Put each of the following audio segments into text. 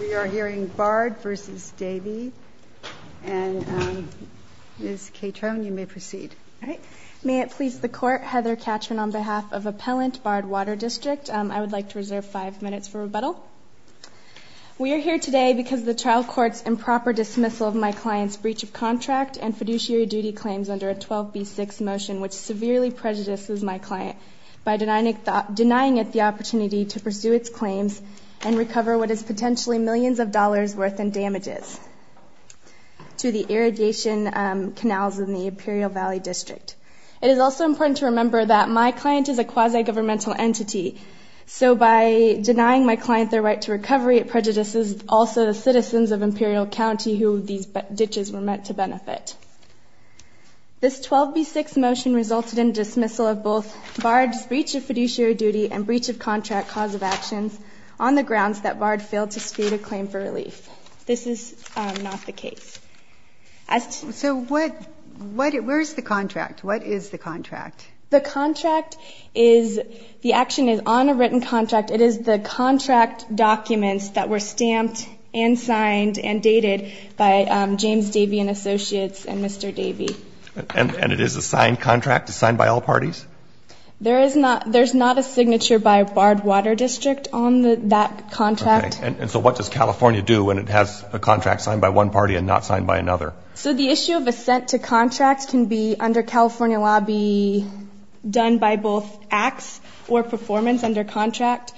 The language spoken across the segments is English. We are hearing Bard v. Davey, and Ms. Catron, you may proceed. May it please the Court, Heather Catron on behalf of Appellant Bard Water District. I would like to reserve five minutes for rebuttal. We are here today because of the trial court's improper dismissal of my client's breach of contract and fiduciary duty claims under a 12B6 motion which severely prejudices my client by denying it the opportunity to pursue its claims and recover what is potentially millions of dollars worth in damages to the irradiation canals in the Imperial Valley District. It is also important to remember that my client is a quasi-governmental entity, so by denying my client their right to recovery, it prejudices also the citizens of Imperial County who these ditches were meant to benefit. This 12B6 motion resulted in dismissal of both Bard's breach of fiduciary duty and breach of contract cause of actions on the grounds that Bard failed to speed a claim for relief. This is not the case. So what – where is the contract? What is the contract? The contract is – the action is on a written contract. It is the contract documents that were stamped and signed and dated by James Davian Associates and Mr. Davian. And it is a signed contract? It's signed by all parties? There is not – there's not a signature by Bard Water District on that contract. Okay. And so what does California do when it has a contract signed by one party and not signed by another? So the issue of assent to contract can be, under California law, be done by both acts or performance under contract.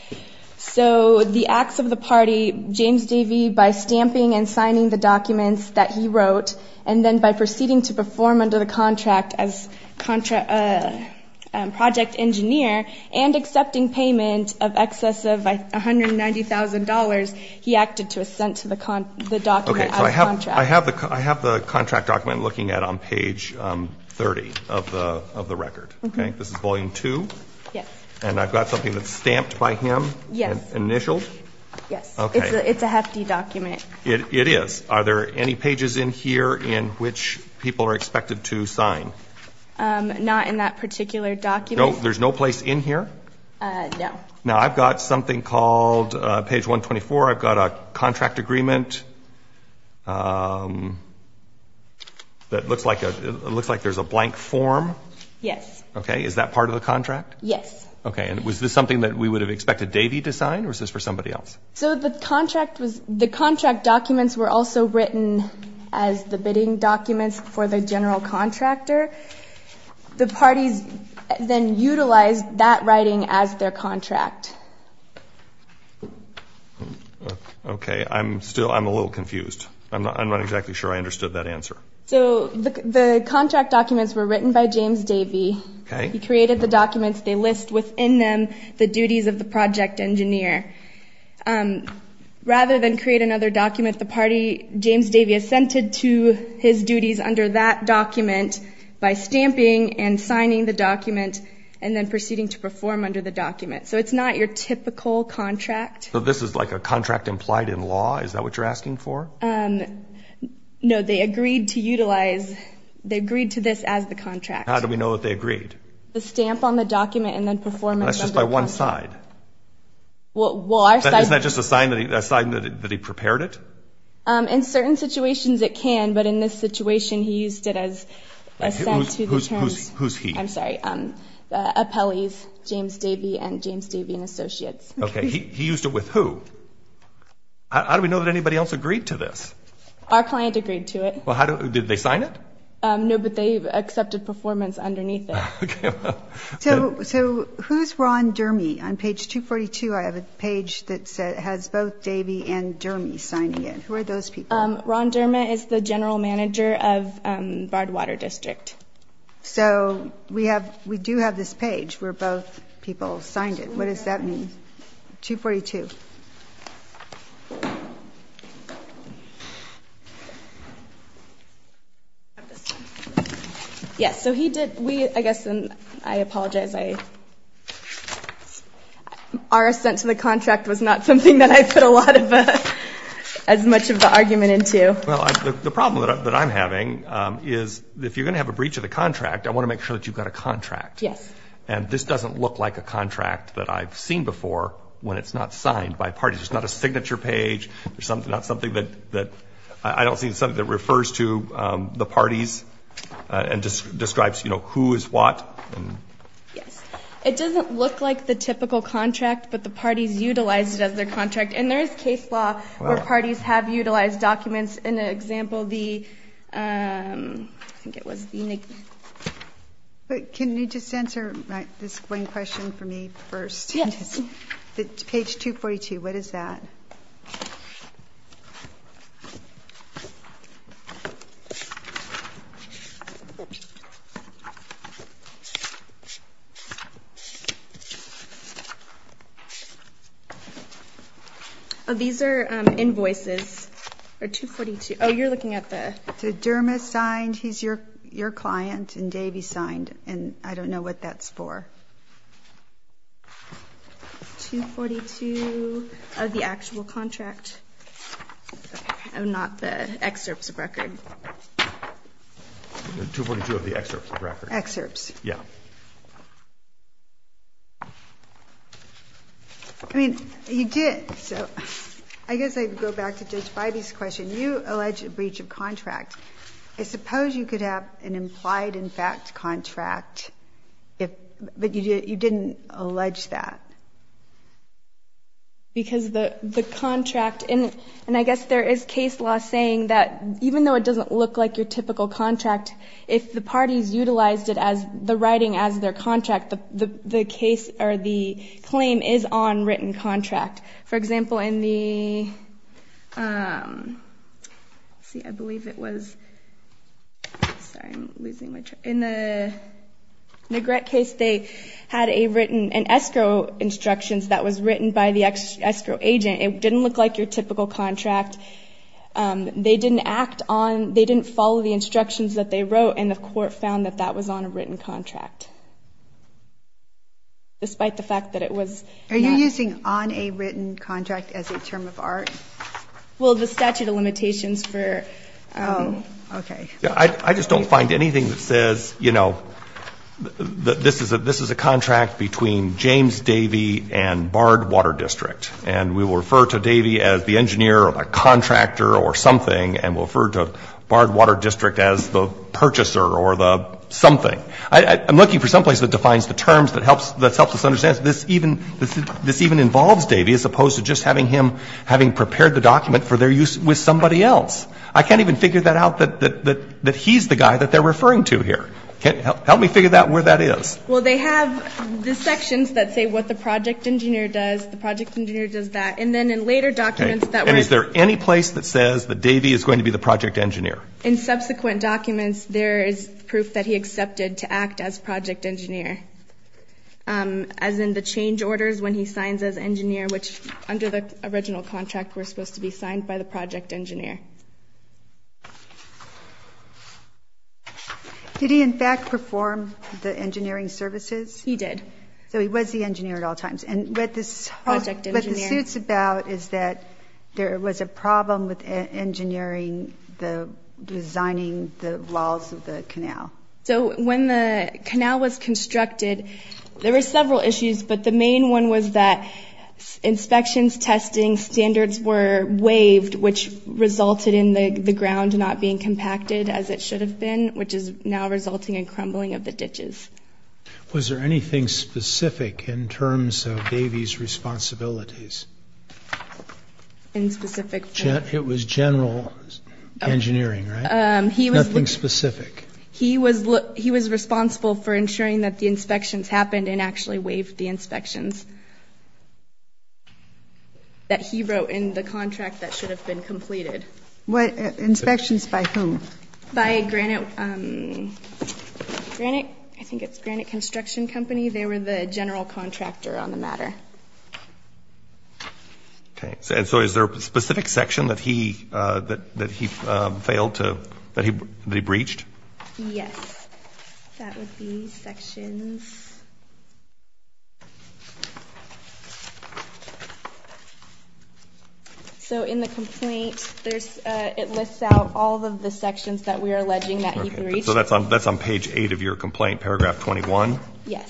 So the acts of the party, James Davian, by stamping and signing the documents that he wrote and then by proceeding to perform under the contract as project engineer and accepting payment of excess of $190,000, he acted to assent to the document as contract. I have the contract document looking at on page 30 of the record. Okay. This is volume 2? Yes. And I've got something that's stamped by him? Yes. And initialed? Yes. Okay. It's a hefty document. It is. Are there any pages in here in which people are expected to sign? Not in that particular document. There's no place in here? No. Now, I've got something called page 124. I've got a contract agreement that looks like there's a blank form? Yes. Okay. Is that part of the contract? Yes. Okay. And was this something that we would have expected Davian to sign or is this for somebody else? So the contract documents were also written as the bidding documents for the general contractor. The parties then utilized that writing as their contract. Okay. I'm still, I'm a little confused. I'm not exactly sure I understood that answer. So the contract documents were written by James Davian. Okay. He created the documents. They list within them the duties of the project engineer. Rather than create another document, the party, James Davian, assented to his duties under that document by stamping and signing the document and then proceeding to perform under the document. So it's not your typical contract. So this is like a contract implied in law? Is that what you're asking for? No. They agreed to utilize, they agreed to this as the contract. How do we know that they agreed? The stamp on the document and then performing under the contract. That's just by one side? Well, our side. Isn't that just a sign that he prepared it? In certain situations it can, but in this situation he used it as a sent to the terms. Who's he? I'm sorry, the appellees, James Davian and James Davian Associates. Okay. He used it with who? How do we know that anybody else agreed to this? Our client agreed to it. Did they sign it? No, but they accepted performance underneath it. Okay. So who's Ron Durme? On page 242 I have a page that has both Davian and Durme signing it. Who are those people? Ron Durme is the general manager of Barred Water District. So we do have this page where both people signed it. What does that mean? 242. Yes, so he did, we, I guess, and I apologize. Our sent to the contract was not something that I put a lot of, as much of the argument into. Well, the problem that I'm having is if you're going to have a breach of the contract, I want to make sure that you've got a contract. Yes. And this doesn't look like a contract that I've seen before when it's not signed by parties. It's not a signature page. It's not something that, I don't think it's something that refers to the parties and describes, you know, who is what. Yes. It doesn't look like the typical contract, but the parties utilized it as their contract. And there is case law where parties have utilized documents. In the example, the, I think it was the. But can you just answer this one question for me first? Yes. Page 242, what is that? Oh, these are invoices, or 242. Oh, you're looking at the. Dermot signed, he's your client, and Davey signed, and I don't know what that's for. 242 of the actual contract, not the excerpts of record. 242 of the excerpts of record. Excerpts. Yes. I mean, you did. So I guess I'd go back to Judge Bidey's question. You allege a breach of contract. I suppose you could have an implied in fact contract, but you didn't allege that. Because the contract, and I guess there is case law saying that even though it doesn't look like your typical contract, if the parties utilized it as the writing as their contract, the case or the claim is on written contract. For example, in the, let's see, I believe it was, sorry, I'm losing my track. In the Grett case, they had a written, an escrow instructions that was written by the escrow agent. It didn't look like your typical contract. They didn't act on, they didn't follow the instructions that they wrote, and the court found that that was on a written contract, despite the fact that it was. Are you using on a written contract as a term of art? Well, the statute of limitations for, okay. I just don't find anything that says, you know, this is a contract between James Davey and Barred Water District. And we will refer to Davey as the engineer or the contractor or something, and we'll refer to Barred Water District as the purchaser or the something. I'm looking for someplace that defines the terms that helps us understand this even involves Davey as opposed to just having him, having prepared the document for their use with somebody else. I can't even figure that out that he's the guy that they're referring to here. Help me figure out where that is. Well, they have the sections that say what the project engineer does, the project engineer does that. And then in later documents that were. And is there any place that says that Davey is going to be the project engineer? In subsequent documents, there is proof that he accepted to act as project engineer, as in the change orders when he signs as engineer, which under the original contract were supposed to be signed by the project engineer. Did he, in fact, perform the engineering services? He did. So he was the engineer at all times. What the suit's about is that there was a problem with engineering the designing the walls of the canal. So when the canal was constructed, there were several issues, but the main one was that inspections, testing standards were waived, which resulted in the ground not being compacted as it should have been, which is now resulting in crumbling of the ditches. Was there anything specific in terms of Davey's responsibilities? In specific? It was general engineering, right? Nothing specific. He was responsible for ensuring that the inspections happened and actually waived the inspections that he wrote in the contract that should have been completed. Inspections by whom? By Granite. I think it's Granite Construction Company. They were the general contractor on the matter. So is there a specific section that he breached? Yes. That would be sections. So in the complaint, it lists out all of the sections that we are alleging that he breached. So that's on page 8 of your complaint, paragraph 21? Yes.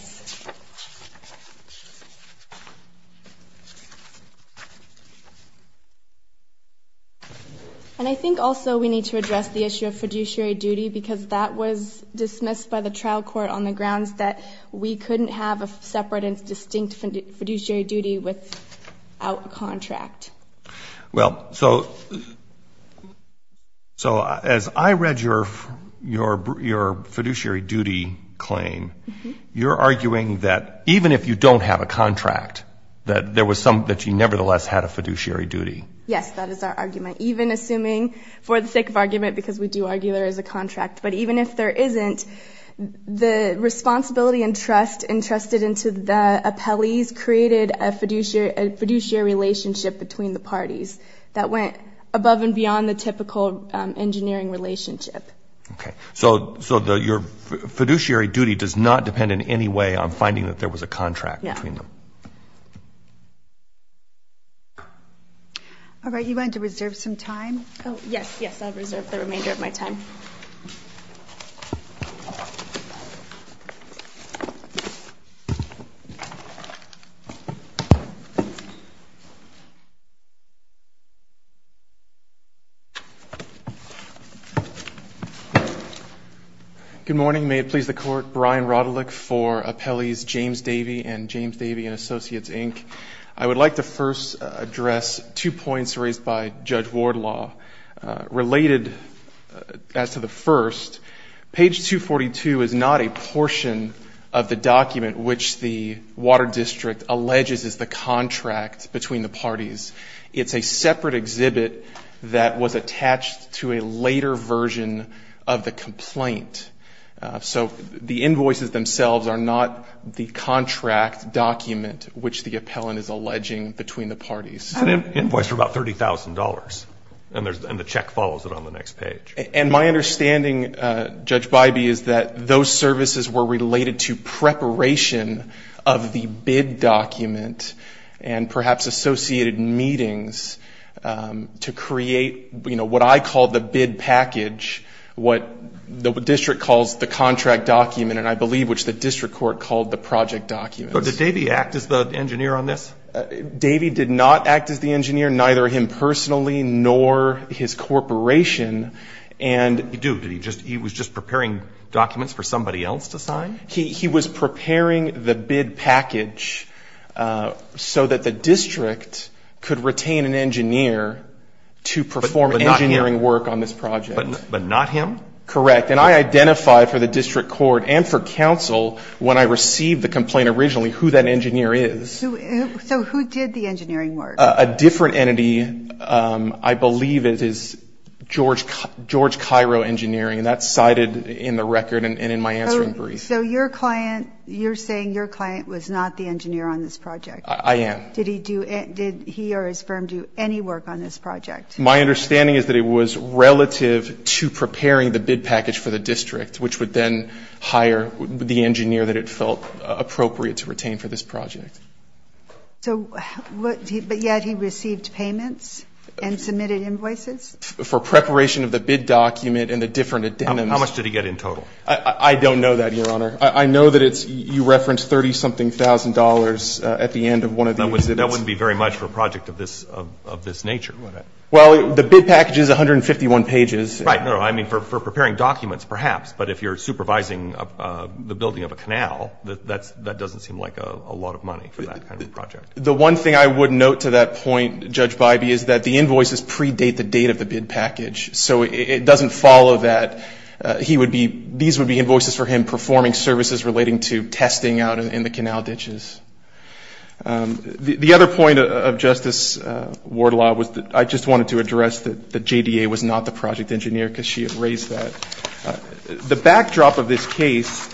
And I think also we need to address the issue of fiduciary duty because that was dismissed by the trial court on the grounds that we couldn't have a separate and distinct fiduciary duty without a contract. Well, so as I read your fiduciary duty claim, you're arguing that even if you don't have a contract, that you nevertheless had a fiduciary duty. Yes, that is our argument. Even assuming, for the sake of argument, because we do argue there is a contract, but even if there isn't, the responsibility and trust entrusted into the appellees created a fiduciary relationship between the parties that went above and beyond the typical engineering relationship. Okay. So your fiduciary duty does not depend in any way on finding that there was a contract between them. No. All right. You want to reserve some time? Oh, yes, yes, I'll reserve the remainder of my time. Good morning. May it please the Court. Brian Rodelick for Appellees James Davey and James Davey & Associates, Inc. I would like to first address two points raised by Judge Wardlaw related as to the first. Page 242 is not a portion of the document which the Water District alleges is the contract between the parties. It's a separate exhibit that was attached to a later version of the complaint. So the invoices themselves are not the contract document which the appellant is alleging between the parties. It's an invoice for about $30,000, and the check follows it on the next page. And my understanding, Judge Bybee, is that those services were related to preparation of the bid document and perhaps associated meetings to create, you know, what I call the bid package, what the District calls the contract document, and I believe which the District Court called the project document. But did Davey act as the engineer on this? Davey did not act as the engineer, neither him personally nor his corporation. He was just preparing documents for somebody else to sign? He was preparing the bid package so that the District could retain an engineer to perform engineering work on this project. But not him? Correct. And I identified for the District Court and for counsel when I received the complaint originally who that engineer is. So who did the engineering work? A different entity. I believe it is George Cairo Engineering, and that's cited in the record and in my answering brief. So your client, you're saying your client was not the engineer on this project? I am. Did he do, did he or his firm do any work on this project? My understanding is that it was relative to preparing the bid package for the District, which would then hire the engineer that it felt appropriate to retain for this project. So, but yet he received payments and submitted invoices? For preparation of the bid document and the different addendums. How much did he get in total? I don't know that, Your Honor. I know that it's, you referenced 30-something thousand dollars at the end of one of the exhibits. That wouldn't be very much for a project of this nature. Well, the bid package is 151 pages. Right. I mean, for preparing documents, perhaps. But if you're supervising the building of a canal, that doesn't seem like a lot of money for that kind of project. The one thing I would note to that point, Judge Bybee, is that the invoices predate the date of the bid package. So it doesn't follow that. He would be, these would be invoices for him performing services relating to testing out in the canal ditches. The other point of Justice Wardlaw was that I just wanted to address that the JDA was not the project engineer, because she had raised that. The backdrop of this case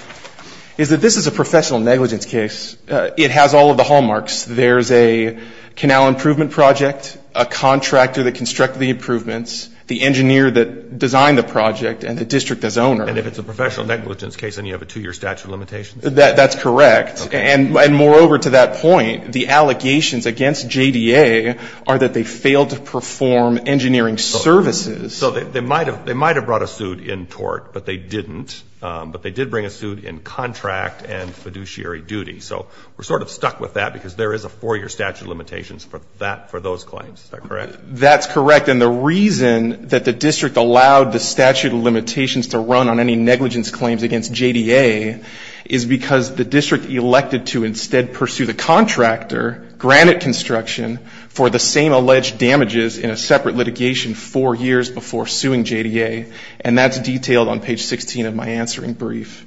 is that this is a professional negligence case. It has all of the hallmarks. There's a canal improvement project, a contractor that constructed the improvements, the engineer that designed the project, and the district that's owner. And if it's a professional negligence case, then you have a two-year statute of limitations? That's correct. And moreover, to that point, the allegations against JDA are that they failed to perform engineering services. So they might have brought a suit in tort, but they didn't. But they did bring a suit in contract and fiduciary duty. So we're sort of stuck with that, because there is a four-year statute of limitations for those claims. Is that correct? That's correct. And the reason that the district allowed the statute of limitations to run on any negligence claims against JDA is because the district elected to instead pursue the contractor, Granite Construction, for the same alleged damages in a separate litigation four years before suing JDA. And that's detailed on page 16 of my answering brief.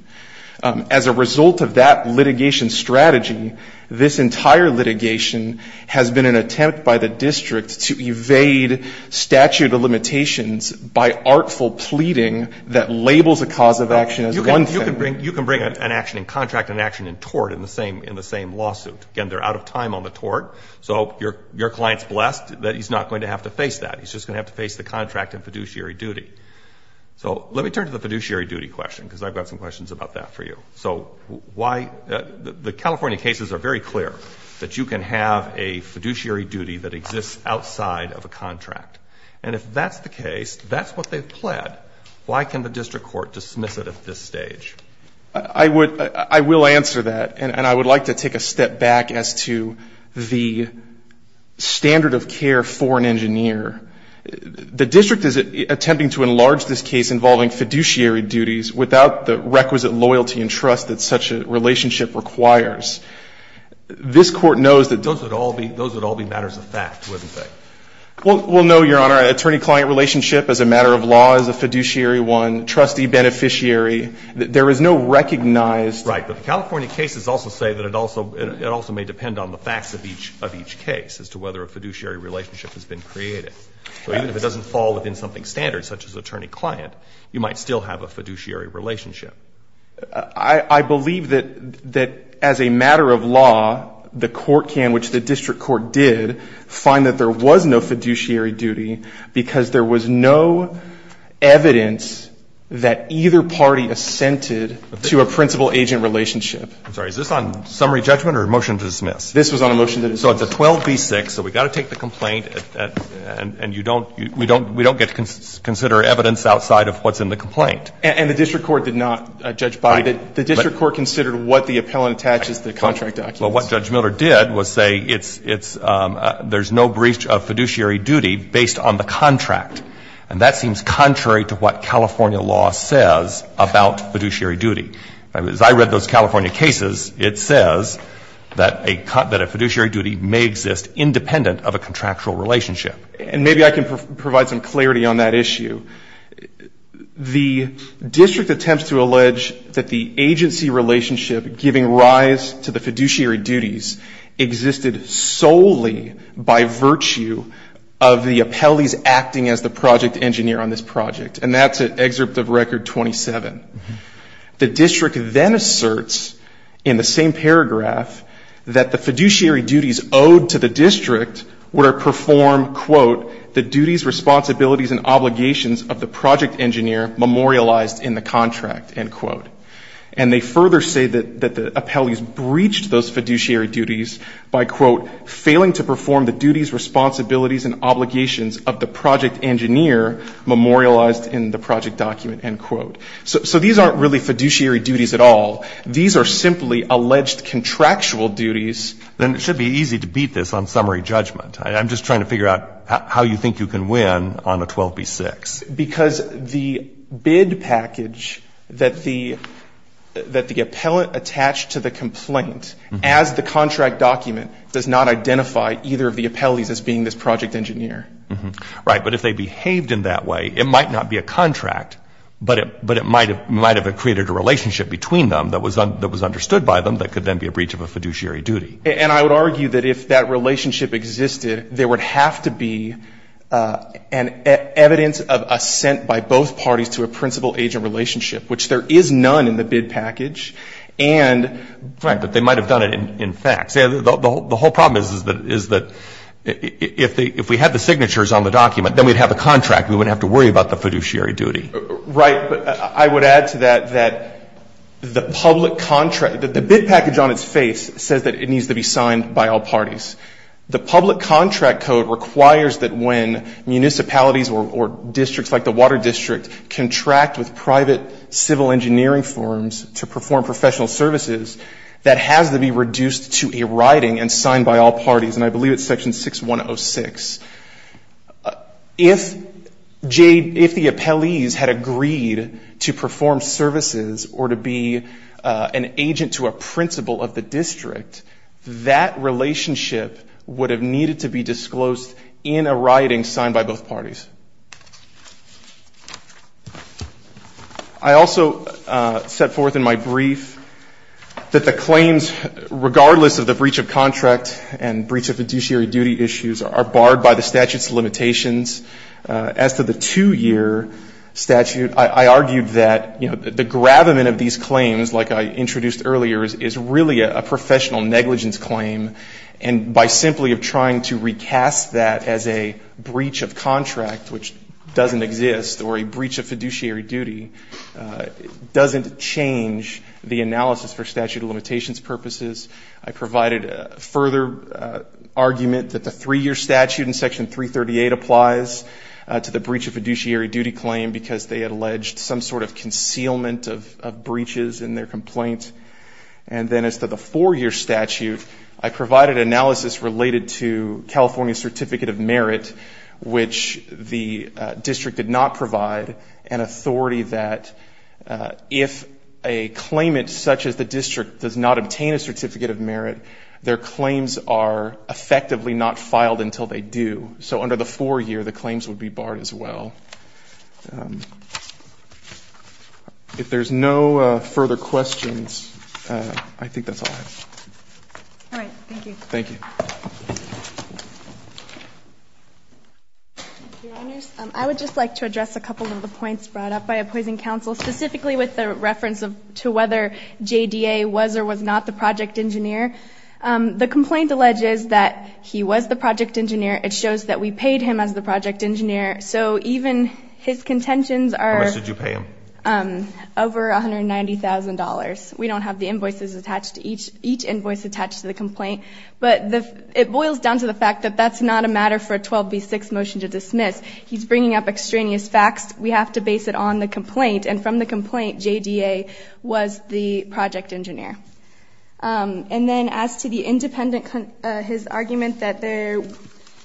As a result of that litigation strategy, this entire litigation has been an attempt by the district to evade statute of limitations by artful pleading that labels a cause of action as one thing. You can bring an action in contract and an action in tort in the same lawsuit. Again, they're out of time on the tort. So your client's blessed that he's not going to have to face that. He's just going to have to face the contract and fiduciary duty. So let me turn to the fiduciary duty question, because I've got some questions about that for you. So why the California cases are very clear that you can have a fiduciary duty that exists outside of a contract. And if that's the case, that's what they've pled, why can the district court dismiss it at this stage? I would, I will answer that. And I would like to take a step back as to the standard of care for an engineer. The district is attempting to enlarge this case involving fiduciary duties without the requisite loyalty and trust that such a relationship requires. This Court knows that those would all be matters of fact, wouldn't they? Well, no, Your Honor. An attorney-client relationship as a matter of law is a fiduciary one. Trustee, beneficiary, there is no recognized. Right, but the California cases also say that it also may depend on the facts of each case as to whether a fiduciary relationship has been created. So even if it doesn't fall within something standard, such as attorney-client, you might still have a fiduciary relationship. I believe that as a matter of law, the court can, which the district court did, find that there was no fiduciary duty because there was no evidence that either party assented to a principal-agent relationship. I'm sorry, is this on summary judgment or a motion to dismiss? This was on a motion to dismiss. So it's a 12b-6, so we've got to take the complaint, and you don't, we don't get to consider evidence outside of what's in the complaint. And the district court did not, Judge Bobby. The district court considered what the appellant attaches to the contract documents. Well, what Judge Miller did was say it's, there's no breach of fiduciary duty based on the contract. And that seems contrary to what California law says about fiduciary duty. As I read those California cases, it says that a fiduciary duty may exist independent of a contractual relationship. And maybe I can provide some clarity on that issue. The district attempts to allege that the agency relationship giving rise to the fiduciary duties existed solely by virtue of the appellees acting as the project engineer on this project. And that's at excerpt of Record 27. The district then asserts in the same paragraph that the fiduciary duties owed to the district were to perform, quote, the duties, responsibilities, and obligations of the project engineer memorialized in the contract, end quote. And they further say that the appellees breached those fiduciary duties by, quote, failing to perform the duties, responsibilities, and obligations of the project engineer memorialized in the project document, end quote. So these aren't really fiduciary duties at all. These are simply alleged contractual duties. Then it should be easy to beat this on summary judgment. I'm just trying to figure out how you think you can win on a 12B-6. Because the bid package that the appellate attached to the complaint as the contract document does not identify either of the appellees as being this project engineer. Right. But if they behaved in that way, it might not be a contract, but it might have created a relationship between them that was understood by them that could then be a breach of a fiduciary duty. And I would argue that if that relationship existed, there would have to be an evidence of assent by both parties to a principal-agent relationship, which there is none in the bid package. Right. But they might have done it in fact. See, the whole problem is that if we had the signatures on the document, then we'd have a contract. We wouldn't have to worry about the fiduciary duty. Right. But I would add to that that the public contract, that the bid package on its face says that it needs to be signed by all parties. The public contract code requires that when municipalities or districts like the Water District contract with private civil engineering firms to perform professional services, that has to be reduced to a writing and signed by all parties. And I believe it's section 6106. If the appellees had agreed to perform services or to be an agent to a principal of the district, that relationship would have needed to be disclosed in a writing signed by both parties. I also set forth in my brief that the claims, regardless of the breach of contract and breach of fiduciary duty issues, are barred by the statute's limitations. As to the two-year statute, I argued that, you know, the gravamen of these claims, like I introduced earlier, is really a professional negligence claim. And by simply trying to recast that as a breach of contract, which doesn't exist, or a breach of fiduciary duty, doesn't change the analysis for statute of limitations purposes. I provided further argument that the three-year statute in section 338 applies to the breach of fiduciary duty claim because they had alleged some sort of concealment of breaches in their complaint. And then as to the four-year statute, I provided analysis related to California's Certificate of Merit, which the district did not provide, an authority that if a claimant such as the district does not obtain a Certificate of Merit, their claims are effectively not filed until they do. So under the four-year, the claims would be barred as well. If there's no further questions, I think that's all I have. All right. Thank you. Thank you. Your Honors, I would just like to address a couple of the points brought up by opposing counsel, specifically with the reference to whether JDA was or was not the project engineer. The complaint alleges that he was the project engineer. It shows that we paid him as the project engineer. So even his contentions are over $190,000. We don't have the invoices attached to each. Each invoice attached to the complaint. But it boils down to the fact that that's not a matter for a 12B6 motion to dismiss. He's bringing up extraneous facts. We have to base it on the complaint. And from the complaint, JDA was the project engineer. And then as to his argument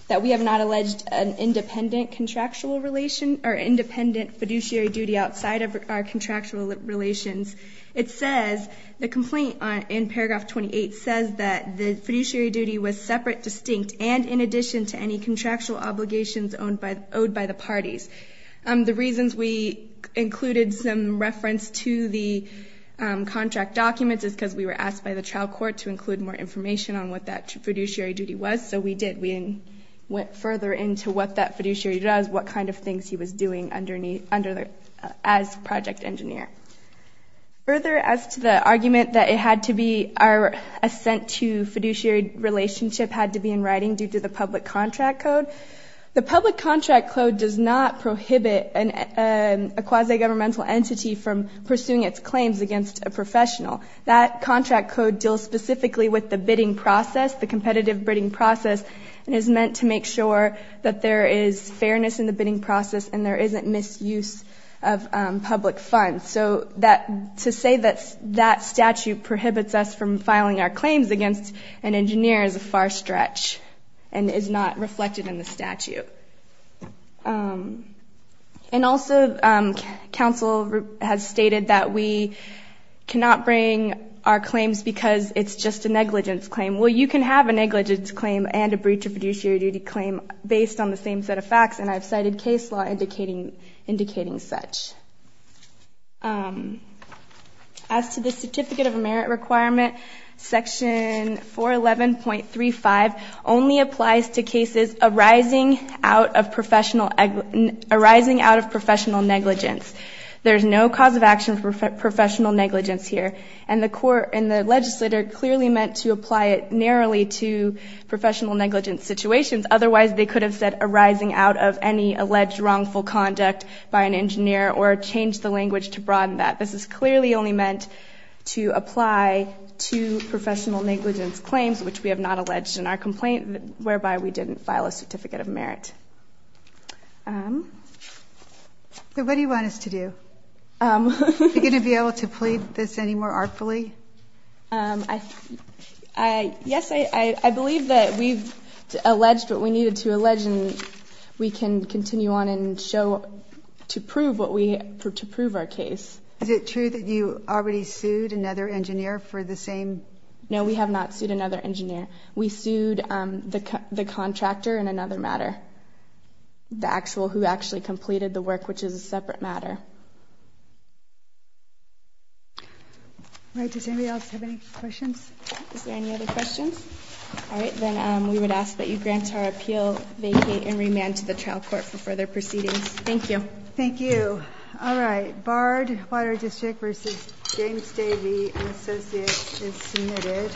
that we have not alleged an independent contractual relation or independent fiduciary duty outside of our contractual relations, it says the complaint in paragraph 28 says that the fiduciary duty was separate, distinct, and in addition to any contractual obligations owed by the parties. The reasons we included some reference to the contract documents is because we were asked by the trial court to include more information on what that fiduciary duty was. So we did. We went further into what that fiduciary duty does, what kind of things he was doing as project engineer. Further, as to the argument that it had to be our assent to fiduciary relationship had to be in writing due to the public contract code, the public contract code does not prohibit a quasi-governmental entity from pursuing its claims against a professional. That contract code deals specifically with the bidding process, the competitive bidding process, and is meant to make sure that there is fairness in the bidding process and there isn't misuse of public funds. So to say that that statute prohibits us from filing our claims against an engineer is a far stretch and is not reflected in the statute. And also, counsel has stated that we cannot bring our claims because it's just a negligence claim. Well, you can have a negligence claim and a breach of fiduciary duty claim based on the same set of facts, and I've cited case law indicating such. As to the Certificate of Merit requirement, Section 411.35 only applies to cases arising out of professional negligence. There's no cause of action for professional negligence here, and the court and the legislator clearly meant to apply it narrowly to professional negligence situations. Otherwise, they could have said arising out of any alleged wrongful conduct by an engineer or changed the language to broaden that. This is clearly only meant to apply to professional negligence claims, which we have not alleged in our complaint, whereby we didn't file a Certificate of Merit. So what do you want us to do? Are we going to be able to plead this any more artfully? Yes, I believe that we've alleged what we needed to allege, and we can continue on and show to prove our case. Is it true that you already sued another engineer for the same? No, we have not sued another engineer. We sued the contractor in another matter, the actual who actually completed the work, which is a separate matter. All right, does anybody else have any questions? Is there any other questions? All right, then we would ask that you grant our appeal, vacate, and remand to the trial court for further proceedings. Thank you. Thank you. All right, Bard, Water District v. James Davey & Associates is submitted.